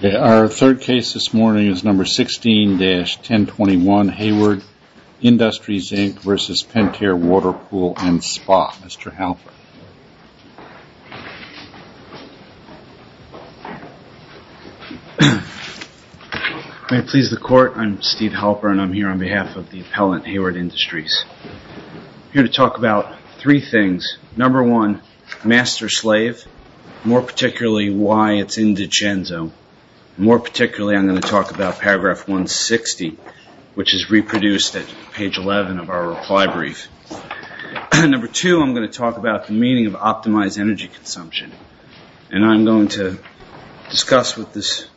Our third case this morning is number 16-1021 Hayward Industries, Inc. v. Pentair Water Pool and Spa. Mr. Halpern. May it please the Court, I'm Steve Halpern and I'm here on behalf of the appellant, Hayward Industries. I'm here to talk about three things. Number one, master slave, more particularly why it's in Dichenzo. More particularly, I'm going to talk about the meaning of optimized energy consumption. I'm going to discuss with this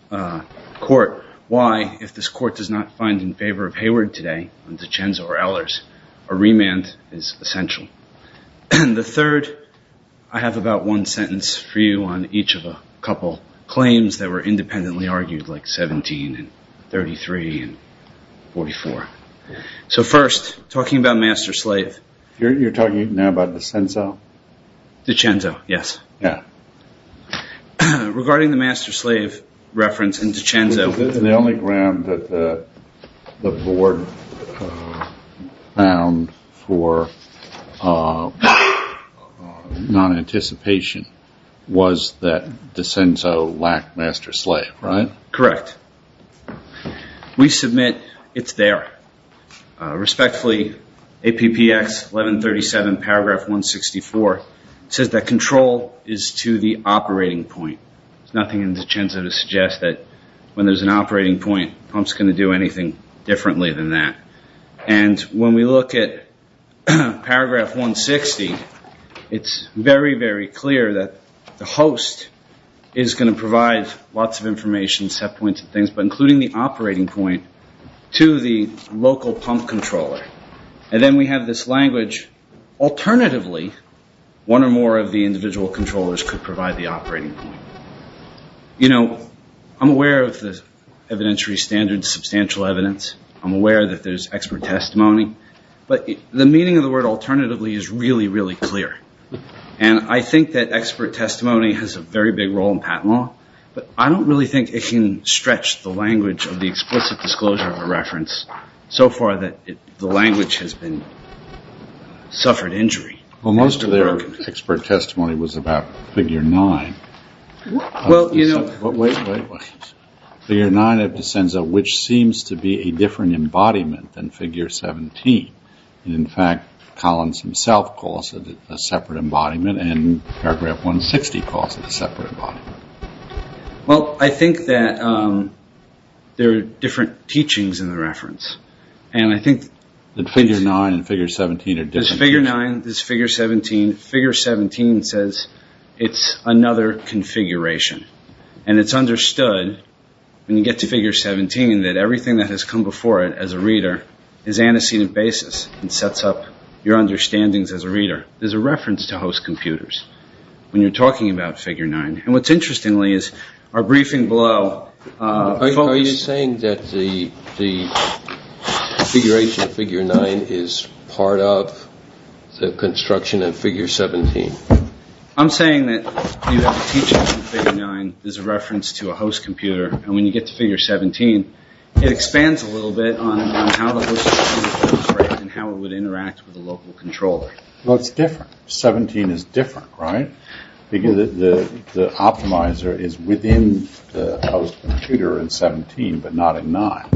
court why, if this court does not find in favor of Hayward today, Dichenzo or Ehlers, a remand is essential. The third, I have about one sentence for you on each of a couple claims that were independently argued like 17 and 33 and 44. So first, talking about master slave. You're talking now about Dichenzo? Dichenzo, yes. Regarding the master slave reference in Dichenzo. The only ground that the board found for non-anticipation was that master slave, right? Correct. We submit it's there. Respectfully, APPX 1137 paragraph 164 says that control is to the operating point. There's nothing in Dichenzo to suggest that when there's an operating point, pump's going to do anything differently than that. And when we look at paragraph 160, it's very, very clear that the host is going to provide lots of information, set points and things, but including the operating point to the local pump controller. And then we have this language, alternatively, one or more of the individual controllers could provide the operating point. You know, I'm aware of the evidentiary standard of substantial evidence. I'm aware that there's expert testimony. But the meaning of the word alternatively is really, really clear. And I think that expert testimony has a very big role in patent law. But I don't really think it can stretch the language of the explicit disclosure of a reference so far that the language has been suffered injury. Well, most of their expert testimony was about figure nine. Well, you know. Wait, wait, wait. Figure nine of Dichenzo, which seems to be a different embodiment than figure 17. In fact, Collins himself calls it a separate embodiment and paragraph 160 calls it a separate embodiment. Well, I think that there are different teachings in the reference. And I think that figure nine and figure 17 are different. There's figure nine, there's figure 17. Figure 17 says it's another configuration. And it's understood when you get to figure 17 that everything that has come before it as a reader is antecedent basis and sets up your understandings as a reader. There's a reference to host computers when you're talking about figure nine. And what's interesting is our briefing below. Are you saying that the configuration of figure nine is part of the construction of figure 17? I'm saying that figure nine is a reference to a host computer. And when you get to figure 17, it expands a little bit on how it would interact with a local controller. Well, it's different. 17 is different, right? The optimizer is within the host computer in 17, but not in nine.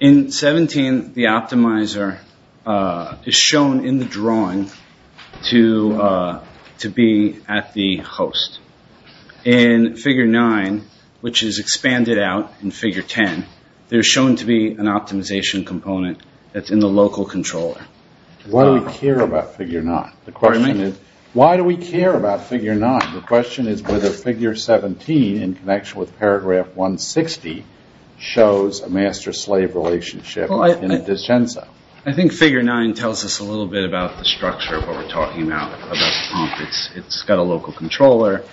In 17, the optimizer is shown in the drawing to be at the host. In figure nine, which is expanded out in figure 10, there's shown to be an optimization component that's in the local controller. Why do we care about figure nine? The question is whether figure 17 in connection with paragraph 160 shows a master-slave relationship in a descensa. I think figure nine tells us a little bit about the structure of what we're talking about, about the pump. It's got a local controller.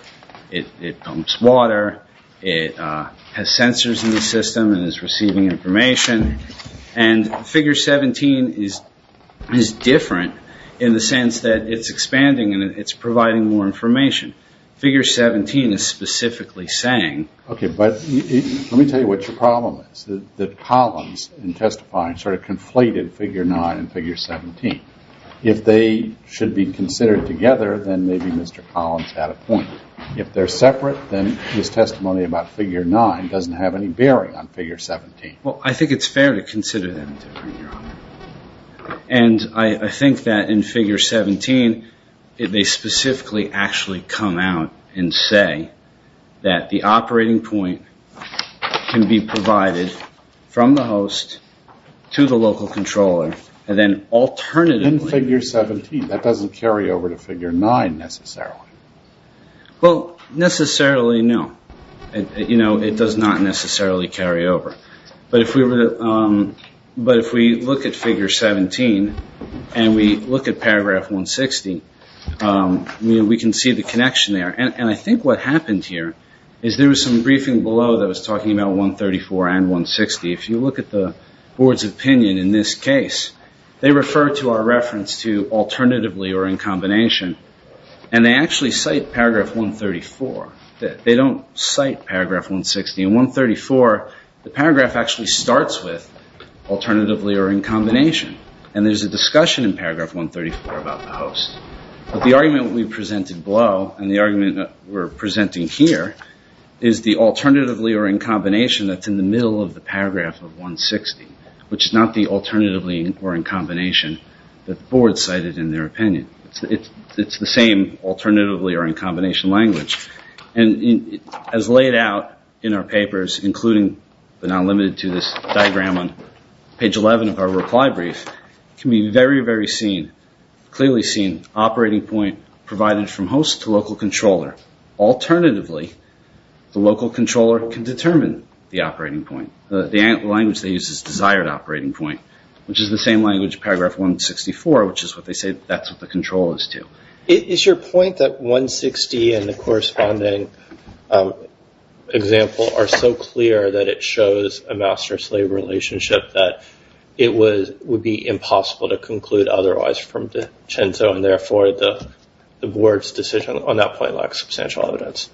It pumps water. It has sensors in the system and is receiving information. And figure 17 is different in the sense that it's expanding and it's providing more information. Figure 17 is specifically saying... Okay, but let me tell you what your problem is, that Collins in testifying sort of conflated figure nine and figure 17. If they should be considered together, then maybe Mr. Collins had a point. If they're separate, then his testimony about figure nine doesn't have any bearing on figure 17. Well, I think it's fair to consider them different, Your Honor. And I think that in figure 17, they specifically actually come out and say that the operating point can be provided from the host to the local controller and then alternatively... In figure 17, that doesn't carry over to figure nine necessarily. Well, necessarily no. It does not necessarily carry over. But if we look at figure 17 and we look at paragraph 160, we can see the connection there. And I think what happened here is there was some briefing below that was talking about 134 and 160. If you look at the board's opinion in this case, they refer to our reference to alternatively or in combination. And they actually cite paragraph 134. They don't cite paragraph 160. In 134, the paragraph actually starts with alternatively or in combination. And there's a discussion in paragraph 134 about the host. But the argument we presented below and the argument we're presenting here is the alternatively or in combination that's in the middle of the paragraph of 160, which is not the alternatively or in combination that the board cited in their opinion. It's the same alternatively or in combination language. And as laid out in our papers, including but not limited to this diagram on page 11 of our reply brief, it can be very, very clearly seen operating point provided from host to local controller. Alternatively, the local operating point, which is the same language, paragraph 164, which is what they say that's what the control is to. Is your point that 160 and the corresponding example are so clear that it shows a master-slave relationship that it would be impossible to conclude otherwise from de Censo and therefore the board's decision on that point lacks substantial evidence?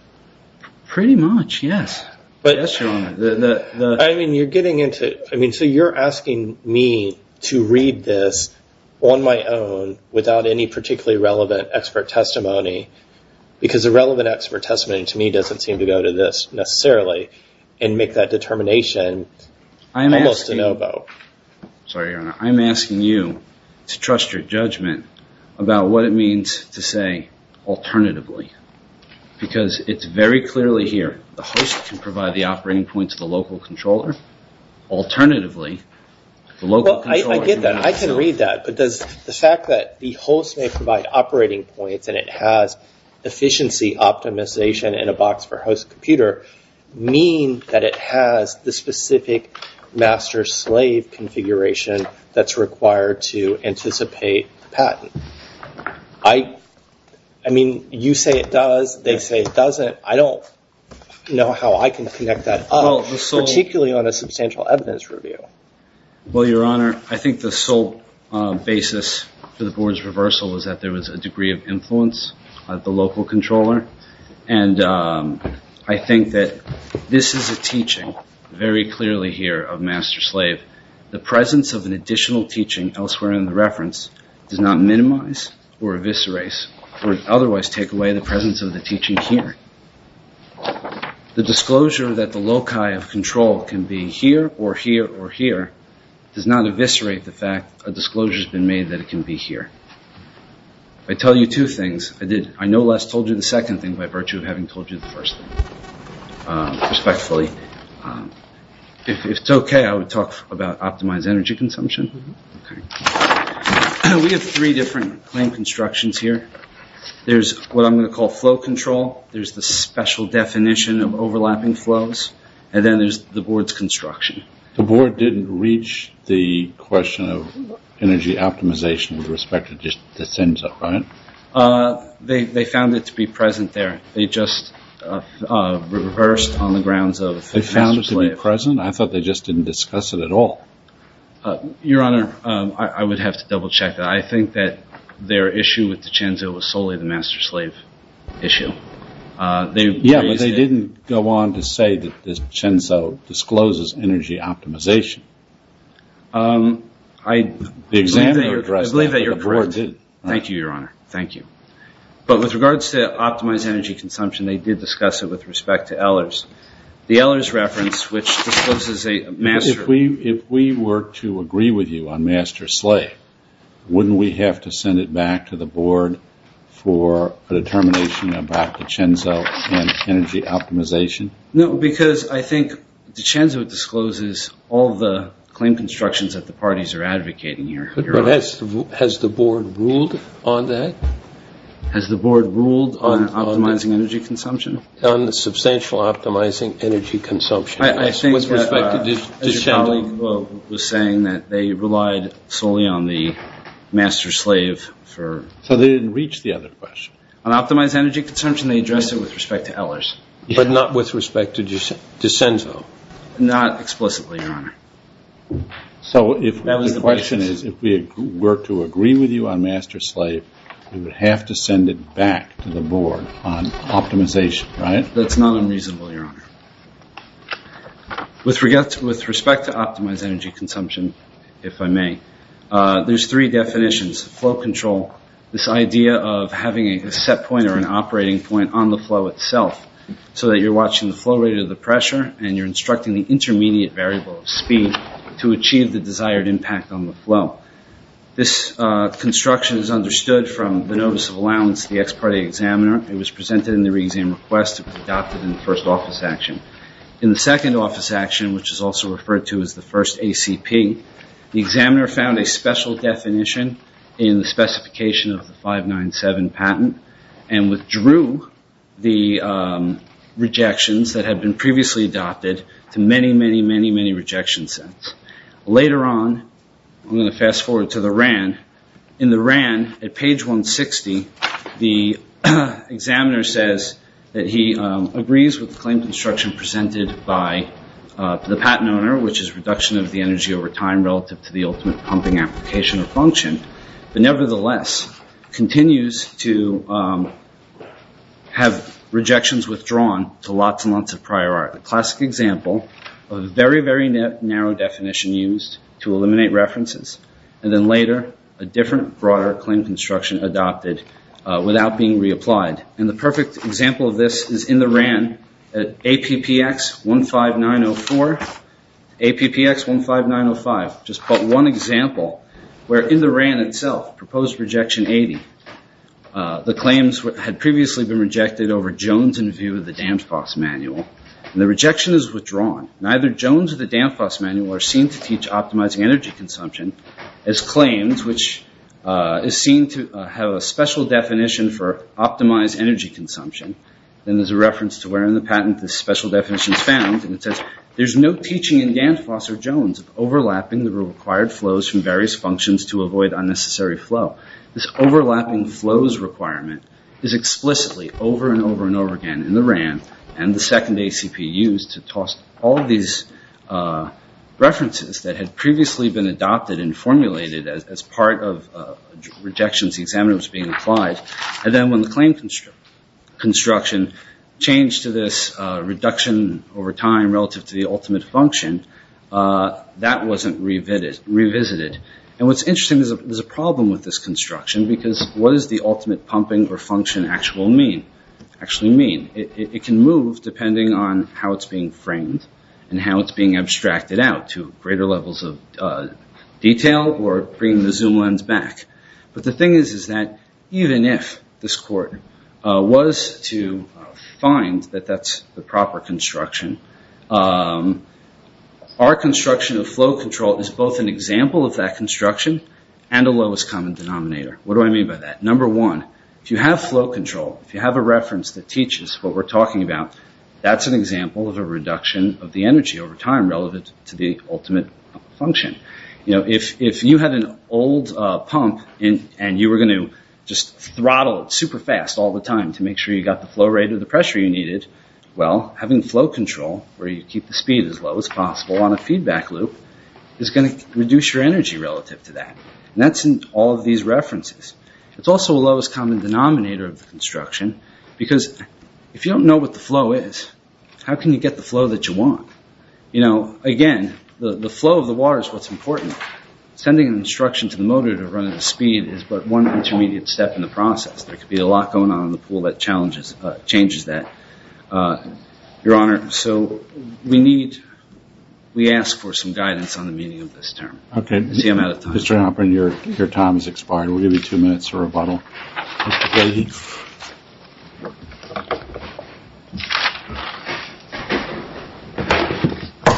Pretty much, yes. But I mean, you're getting into it. I mean, so you're asking me to read this on my own without any particularly relevant expert testimony because the relevant expert testimony to me doesn't seem to go to this necessarily and make that determination almost a no-go. Sorry, Your Honor. I'm asking you to trust your judgment about what it means to say alternatively because it's very clearly here. The host can provide the operating points to the local controller. Alternatively, the local controller can... I get that. I can read that. But does the fact that the host may provide operating points and it has efficiency optimization in a box for host computer mean that it has the specific master-slave configuration that's required to anticipate patent? I mean, you say it does. They say it doesn't. I don't know how I can connect that up, particularly on a substantial evidence review. Well, Your Honor, I think the sole basis for the board's reversal is that there was a degree of influence at the local controller. And I think that this is a teaching very clearly here of master-slave. The presence of an additional teaching elsewhere in the reference does not minimize or eviscerate or otherwise take away the presence of the teaching here. The disclosure that the loci of control can be here or here or here does not eviscerate the fact a disclosure has been made that it can be here. I tell you two things. I no less told you the second thing by virtue of having told you the first thing, respectfully. If it's okay, I would talk about optimized energy consumption. We have three different claim constructions here. There's what I'm going to call flow control. There's the special definition of overlapping flows. And then there's the board's construction. The board didn't reach the question of energy optimization with respect to just the SINs up front? They found it to be present there. They just reversed on the grounds of master-slave. They found it to be present? I thought they just didn't discuss it at all. Your Honor, I would have to double-check that. I think that their issue with the CHENZO was solely the master-slave issue. Yeah, but they didn't go on to say that the CHENZO discloses energy optimization. I believe that you're correct. Thank you, Your Honor. Thank you. But with regards to optimized energy consumption, they did discuss it with respect to Ehlers. The Ehlers reference, which discloses a master-slave. If we were to agree with you on master-slave, wouldn't we have to send it back to the board for a determination about the CHENZO and energy optimization? No, because I think the CHENZO discloses all the claim constructions that the parties are advocating here. But has the board ruled on that? Has the board ruled on optimizing energy consumption? On the substantial optimizing energy consumption. I think that your colleague was saying that they relied solely on the master-slave for... So they didn't reach the other question. On optimized energy consumption, they addressed it with respect to Ehlers. But not with respect to CHENZO? Not explicitly, Your Honor. So the question is, if we were to agree with you on master-slave, we would have to send it back to the board on optimization, right? That's not unreasonable, Your Honor. With respect to optimized energy consumption, if I may, there's three definitions. Flow control, this idea of having a set point or an operating point on the flow itself, so that you're watching the flow rate or the pressure, and you're instructing the intermediate variable of speed to achieve the desired impact on the flow. This construction is understood from the notice of allowance to the ex parte examiner. It was presented in the re-exam request. It was adopted in the first office action. In the second office action, which is also referred to as the first ACP, the examiner found a special definition in the specification of the 597 patent, and withdrew the rejections that had been previously adopted to many, many, many, many rejection sets. Later on, I'm going to fast forward to the RAN. In the RAN, at page 160, the examiner says that he agrees with the claim construction presented by the patent owner, which is reduction of the energy over time relative to the ultimate pumping application or function, but nevertheless continues to have rejections withdrawn to lots and lots of prior art. A classic example of a very, very narrow definition used to eliminate references. And then later, a different, broader claim construction adopted without being reapplied. And the perfect example of this is in the RAN at APPX 15904, APPX 15905. Just one example, where in the RAN itself, proposed rejection 80, the claims had previously been rejected over Jones in view of the Danfoss manual, and the rejection is withdrawn. Neither Jones or the Danfoss manual are seen to teach optimizing energy consumption as claims, which is seen to have a special definition for optimized energy consumption. Then there's a reference to where in the patent this special definition is found, and it says, there's no teaching in Danfoss or Jones of overlapping the required flows from various functions to avoid unnecessary flow. This overlapping flows requirement is explicitly over and over and over again in the RAN, and the second ACP used to toss all these references that had previously been adopted and formulated as part of rejections the examiner was being applied. And then when the claim construction changed to this reduction over time relative to the ultimate function, that wasn't revisited. And what's interesting is there's a problem with this construction, because what does the ultimate pumping or function actually mean? It can move depending on how it's being framed, and how it's being abstracted out to greater levels of detail, or bringing the zoom lens back. But the thing is that even if this court was to find that that's the proper construction, our construction of flow control is both an example of that construction and a lowest common denominator. What do I mean by that? Number one, if you have flow control, if you have a reference that teaches what we're talking about, that's an example of a reduction of the energy over time relevant to the ultimate function. If you had an old pump and you were going to just throttle it super fast all the time to make sure you got the flow rate of the pressure you needed, well, having flow control, where you keep the speed as low as possible on a feedback loop, is going to reduce your energy relative to that. And that's in all of these references. It's also a lowest common denominator of the construction, because if you don't know what the flow is, how can you get the flow that you want? Again, the flow of the water is what's important. Sending an instruction to the motor to run at a speed is but one intermediate step in the process. There could be a lot going on in the pool that changes that. Your Honor, so we need, we ask for some guidance on the meaning of this term. I'm out of time. Mr. Hopper, your time has expired. We'll give you two minutes for rebuttal.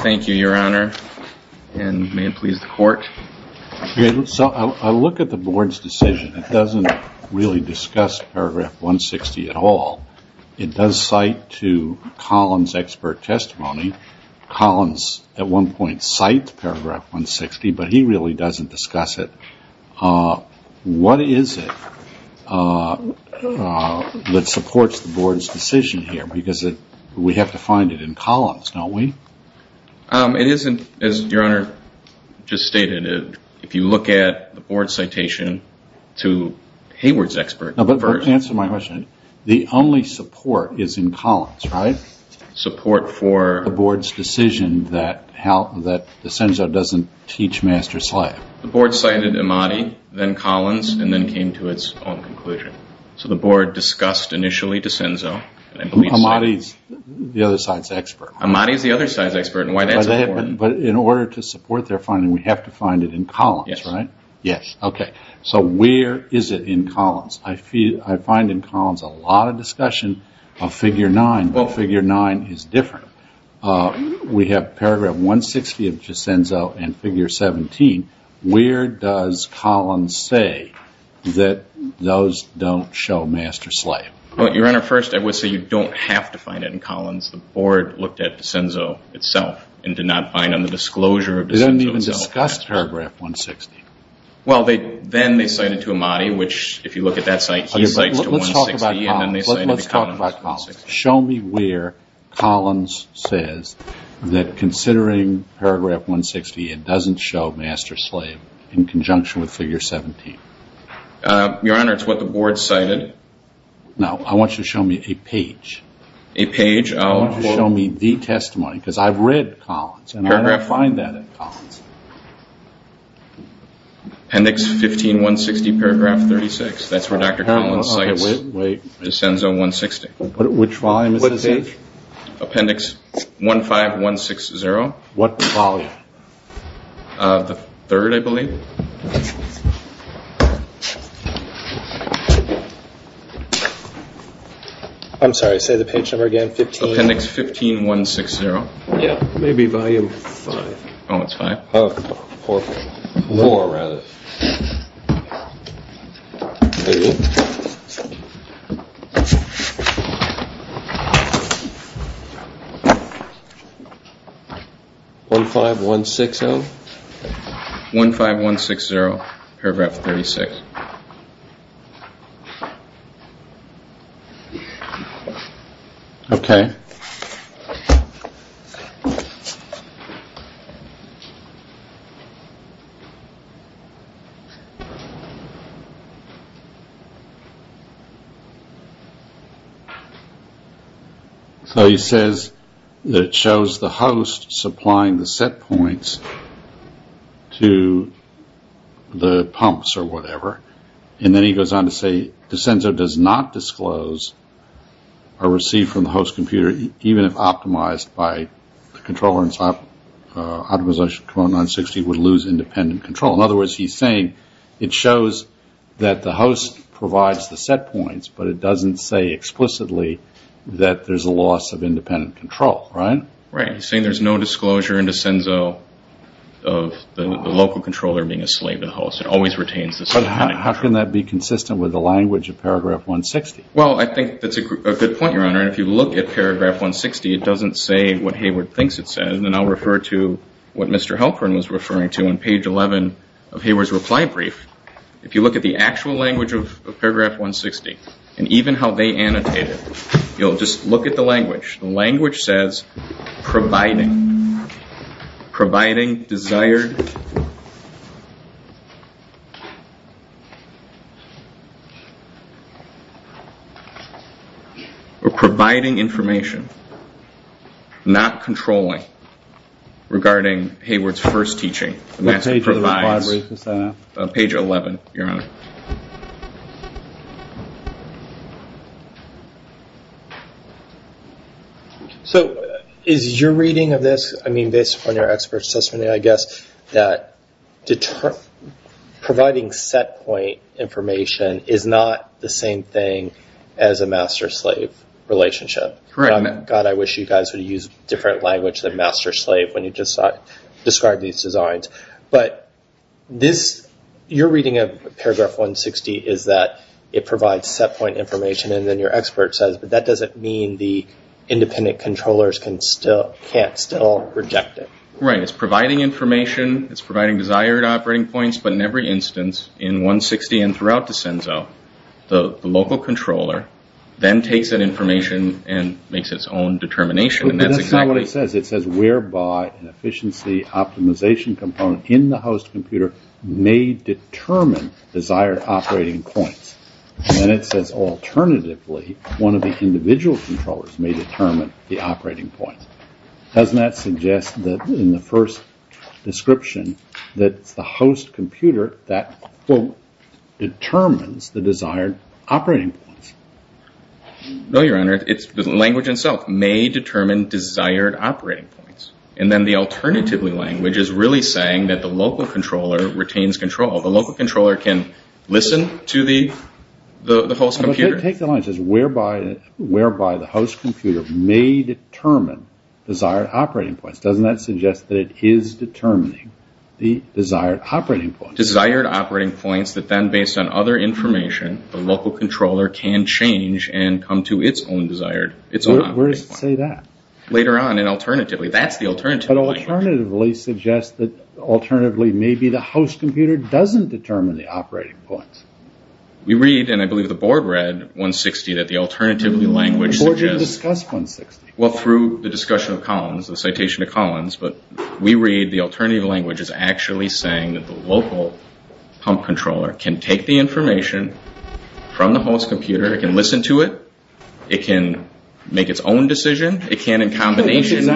Thank you, Your Honor. And may it please the Court. I look at the Board's decision. It doesn't really discuss Paragraph 160 at all. It does cite to Collins' expert testimony. Collins, at one point, cites Paragraph 160, but he really doesn't discuss it. What is it that supports the Board's decision here? We have to find it in Collins, don't we? It isn't, as Your Honor just stated. If you look at the Board's citation to Hayward's expert... Answer my question. The only support is in Collins, right? Support for... The Board's decision that Desenzo doesn't teach master slack. The Board cited Imati, then Collins, and then came to its own conclusion. So the Board discussed initially Desenzo. Imati's the other side's expert. Imati's the other side's expert. But in order to support their finding, we have to find it in Collins, right? Yes. Okay. So where is it in Collins? I find in Collins a lot of discussion of Figure 9, but Figure 9 is different. We have Paragraph 160 of Desenzo and Figure 17. Where does Collins say that those don't show master slack? Well, Your Honor, first I would say you don't have to find it in Collins. The Board looked at Desenzo itself and did not find on the disclosure of Desenzo. They didn't even discuss Paragraph 160. Well, then they cited to Imati, which if you look at that site, he cites to 160... Let's talk about Collins. Show me where Collins says that considering Paragraph 160, it doesn't show master slack in conjunction with Figure 17. Your Honor, it's what the Board cited. Now, I want you to show me a page. A page? I want you to show me the testimony because I've read Collins and I didn't find that in Collins. Appendix 15, 160, Paragraph 36. That's where Dr. Collins cites Desenzo 160. Which volume is this in? Appendix 15160. What volume? The third, I believe. I'm sorry, say the page number again. Appendix 15160. Yeah, maybe volume 5. Oh, it's 5? 4, rather. 15160? 15160, Paragraph 36. Okay. So he says that it shows the host supplying the set points to the pumps or whatever. And then he goes on to say Desenzo does not disclose or receive from the host computer even if optimized by the controller and optimization component 960 would lose independent control. In other words, he's saying it shows that the host provides the set points but it doesn't say explicitly that there's a loss of independent control, right? Right. He's saying there's no disclosure in Desenzo of the local controller being a slave to the host. How can that be consistent with the language of Paragraph 160? Well, I think that's a good point, Your Honor. If you look at Paragraph 160, it doesn't say what Hayward thinks it says. And I'll refer to what Mr. Halpern was referring to on page 11 of Hayward's reply brief. If you look at the actual language of Paragraph 160 and even how they annotate it, you'll just look at the language. The language says providing, providing desired, or providing information, not controlling, regarding Hayward's first teaching. What page of the reply brief is that? Page 11, Your Honor. So is your reading of this, I mean, based upon your expert assessment, I guess, that providing set point information is not the same thing as a master-slave relationship? Correct. God, I wish you guys would have used a different language than master-slave when you just described these designs. But this, your reading of Paragraph 160 is that it provides set point information and then your expert says, but that doesn't mean the independent controllers can't still project it. Right, it's providing information, it's providing desired operating points, but in every instance, in 160 and throughout Desenzo, the local controller then takes that information and makes its own determination. But this is not what it says. It says whereby an efficiency optimization component in the host computer may determine desired operating points. And it says alternatively, one of the individual controllers may determine the operating points. Doesn't that suggest that in the first description, that it's the host computer that, quote, determines the desired operating points? No, Your Honor, it's the language itself, may determine desired operating points. And then the alternative language is really saying that the local controller retains control. The local controller can listen to the host computer? Take the line that says whereby the host computer may determine desired operating points. Doesn't that suggest that it is determining the desired operating points? Desired operating points that then, based on other information, the local controller can change and come to its own desired operating points. Where does it say that? Later on, and alternatively, that's the alternative language. But alternatively suggests that, alternatively, maybe the host computer doesn't determine the operating points. We read, and I believe the Board read, 160, that the alternative language suggests... The Board didn't discuss 160. Well, through the discussion of Collins, the citation of Collins, but we read the alternative language is actually saying that the local pump controller can take the information from the host computer, it can listen to it, it can make its own decision, it can, in combination...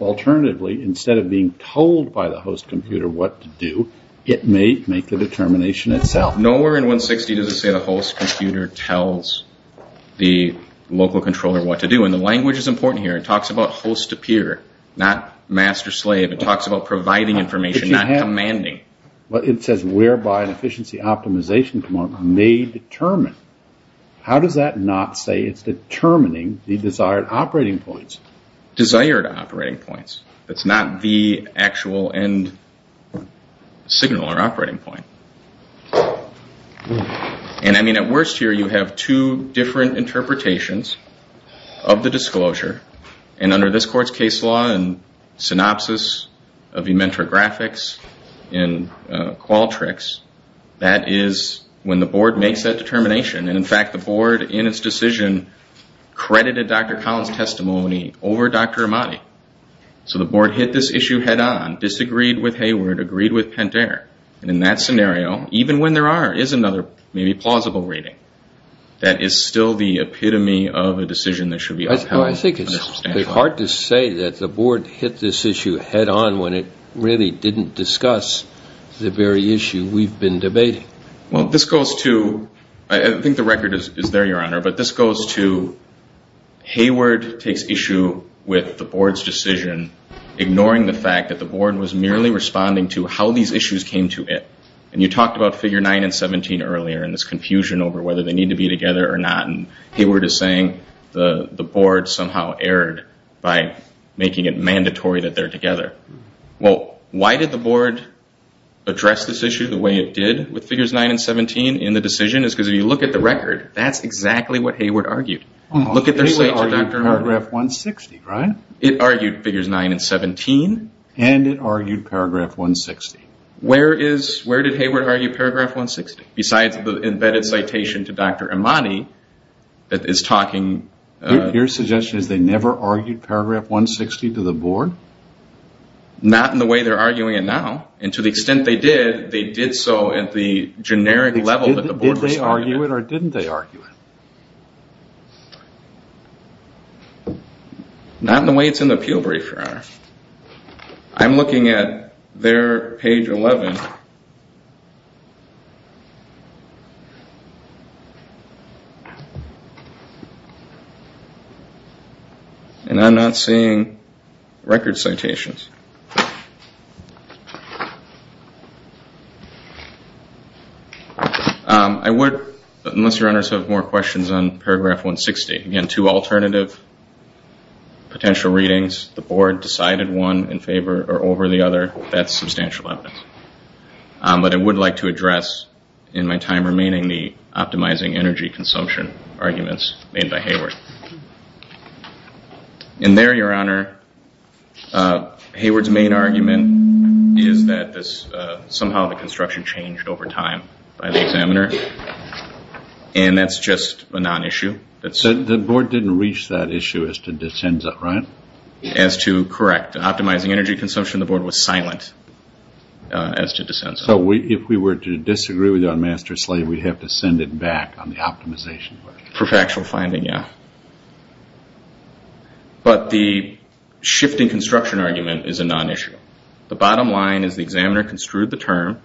Alternatively, instead of being told by the host computer what to do, it may make the determination itself. Nowhere in 160 does it say the host computer tells the local controller what to do. And the language is important here. It talks about host-to-peer, not master-slave. It talks about providing information, not commanding. It says whereby an efficiency optimization component may determine. How does that not say it's determining the desired operating points? Desired operating points. It's not the actual end signal or operating point. And, I mean, at worst here, you have two different interpretations of the disclosure. And under this Court's case law and synopsis of Ementor Graphics and Qualtrics, that is when the Board makes that determination. And, in fact, the Board, in its decision, credited Dr. Collins' testimony over Dr. Amati. So the Board hit this issue head-on, disagreed with Hayward, agreed with Pentair. And in that scenario, even when there is another maybe plausible reading, that is still the epitome of a decision that should be upheld. I think it's hard to say that the Board hit this issue head-on when it really didn't discuss the very issue we've been debating. Well, this goes to, I think the record is there, Your Honor, but this goes to Hayward takes issue with the Board's decision, ignoring the fact that the Board was merely responding to how these issues came to it. And you talked about Figure 9 and 17 earlier, and this confusion over whether they need to be together or not. And Hayward is saying the Board somehow erred by making it mandatory that they're together. Well, why did the Board address this issue the way it did with Figures 9 and 17 in the decision? Because if you look at the record, that's exactly what Hayward argued. It argued Paragraph 160, right? It argued Figures 9 and 17. And it argued Paragraph 160. Where did Hayward argue Paragraph 160? Besides the embedded citation to Dr. Amati that is talking... Your suggestion is they never argued Paragraph 160 to the Board? Not in the way they're arguing it now. And to the extent they did, they did so at the generic level that the Board was arguing it. Did they argue it or didn't they argue it? Not in the way it's in the appeal brief, Your Honor. I'm looking at there, page 11. And I'm not seeing record citations. I would, unless Your Honors have more questions on Paragraph 160. Again, two alternative potential readings. The Board decided one in favor or over the other. That's substantial evidence. But I would like to address, in my time remaining, the optimizing energy consumption arguments made by Hayward. And there, Your Honor, Hayward's main argument is that somehow the construction changed over time by the examiner. And that's just a non-issue. The Board didn't reach that issue as to descenda, right? Optimizing energy consumption, the Board was silent. As to descenda. So if we were to disagree with you on master-slave, we'd have to send it back on the optimization. For factual finding, yeah. But the shifting construction argument is a non-issue. The bottom line is the examiner construed the term,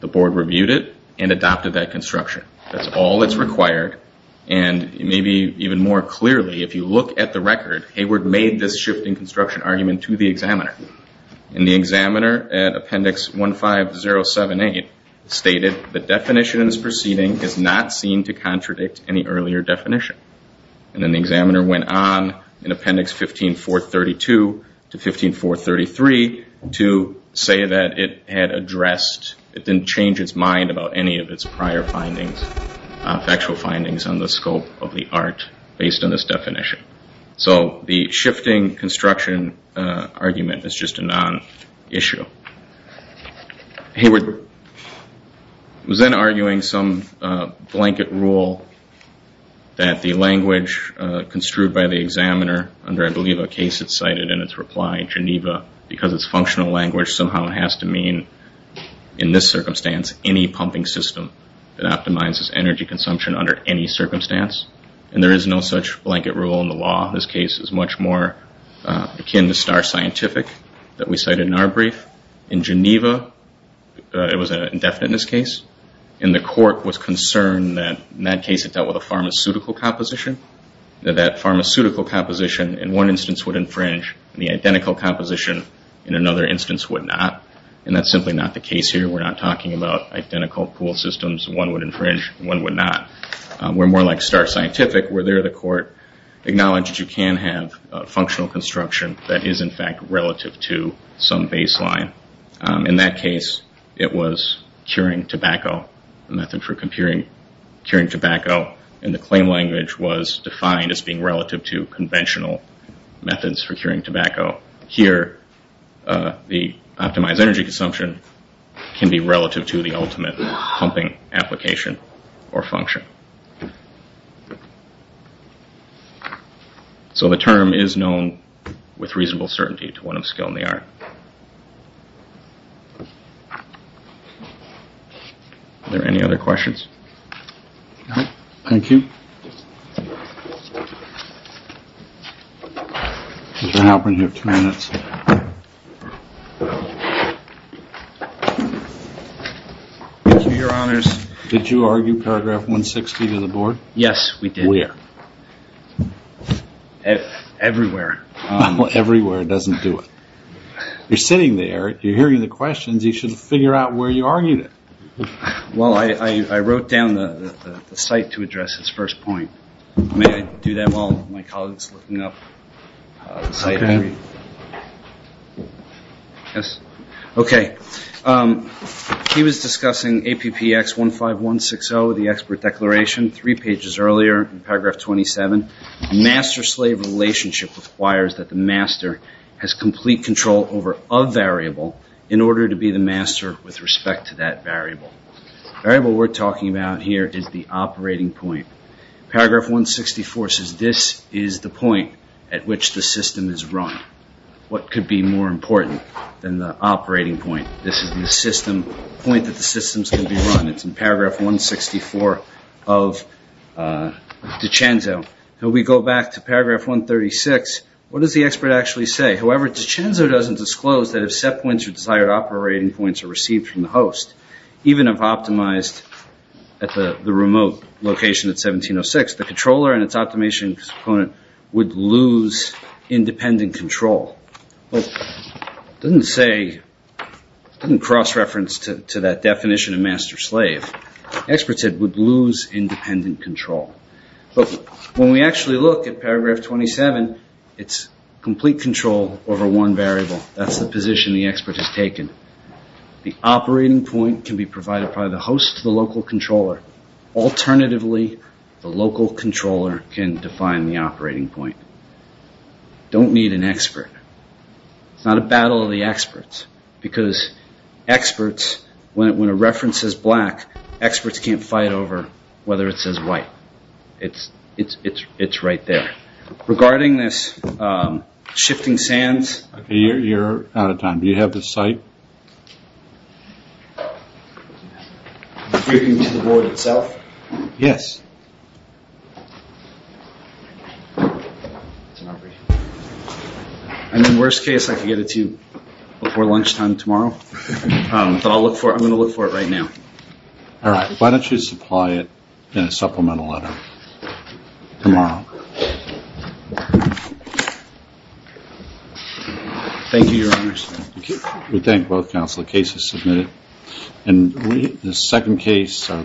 the Board reviewed it, and adopted that construction. That's all that's required. And maybe even more clearly, if you look at the record, Hayward made this shifting construction argument to the examiner. And the examiner, at appendix 15078, stated the definition in this proceeding is not seen to contradict any earlier definition. And then the examiner went on, in appendix 15432 to 15433, to say that it had addressed, it didn't change its mind about any of its prior findings, factual findings on the scope of the art, based on this definition. So the shifting construction argument is just a non-issue. Hayward was then arguing some blanket rule that the language construed by the examiner, under, I believe, a case that's cited in its reply, Geneva, because it's functional language, somehow it has to mean, in this circumstance, any pumping system that optimizes energy consumption under any circumstance. And there is no such blanket rule in the law. This case is much more akin to star scientific that we cited in our brief. In Geneva, it was an indefiniteness case. And the court was concerned that, in that case, it dealt with a pharmaceutical composition, that that pharmaceutical composition, in one instance, would infringe, and the identical composition, in another instance, would not. And that's simply not the case here. We're not talking about identical pool systems. One would infringe, one would not. We're more like star scientific, where there the court acknowledged you can have functional construction that is, in fact, relative to some baseline. In that case, it was curing tobacco, a method for curing tobacco, and the claim language was defined as being relative to conventional methods for curing tobacco. Here, the optimized energy consumption can be relative to the ultimate pumping application or function. So the term is known with reasonable certainty to one of skill in the art. Are there any other questions? Thank you. I'll open here for two minutes. Thank you, your honors. Did you argue paragraph 160 to the board? Yes, we did. Everywhere. Everywhere doesn't do it. You're sitting there. If you're hearing the questions, you should figure out where you argued it. Well, I wrote down the site to address this first point. May I do that while my colleague is looking up the site? He was discussing APPX 15160, the expert declaration, three pages earlier in paragraph 27. Master-slave relationship requires that the master has complete control over a variable in order to be the master with respect to that variable. The variable we're talking about here is the operating point. Paragraph 164 says this is the point at which the system is run. What could be more important than the operating point? This is the point that the system is going to be run. It's in paragraph 164 of DiCenzo. If we go back to paragraph 136, what does the expert actually say? However, DiCenzo doesn't disclose that if set points or desired operating points are received from the host, even if optimized at the remote location at 1706, the controller and its optimization component would lose independent control. It doesn't cross-reference to that definition of master-slave. The expert said it would lose independent control. When we actually look at paragraph 27, it's complete control over one variable. That's the position the expert has taken. The operating point can be provided by the host to the local controller. Alternatively, the local controller can define the operating point. Don't need an expert. It's not a battle of the experts because when a reference is black, experts can't fight over whether it says white. It's right there. Regarding this shifting sands... You're out of time. Do you have the site? Do you mean to the board itself? Yes. In the worst case, I can get it to you before lunchtime tomorrow. I'm going to look for it right now. Why don't you supply it in a supplemental letter tomorrow?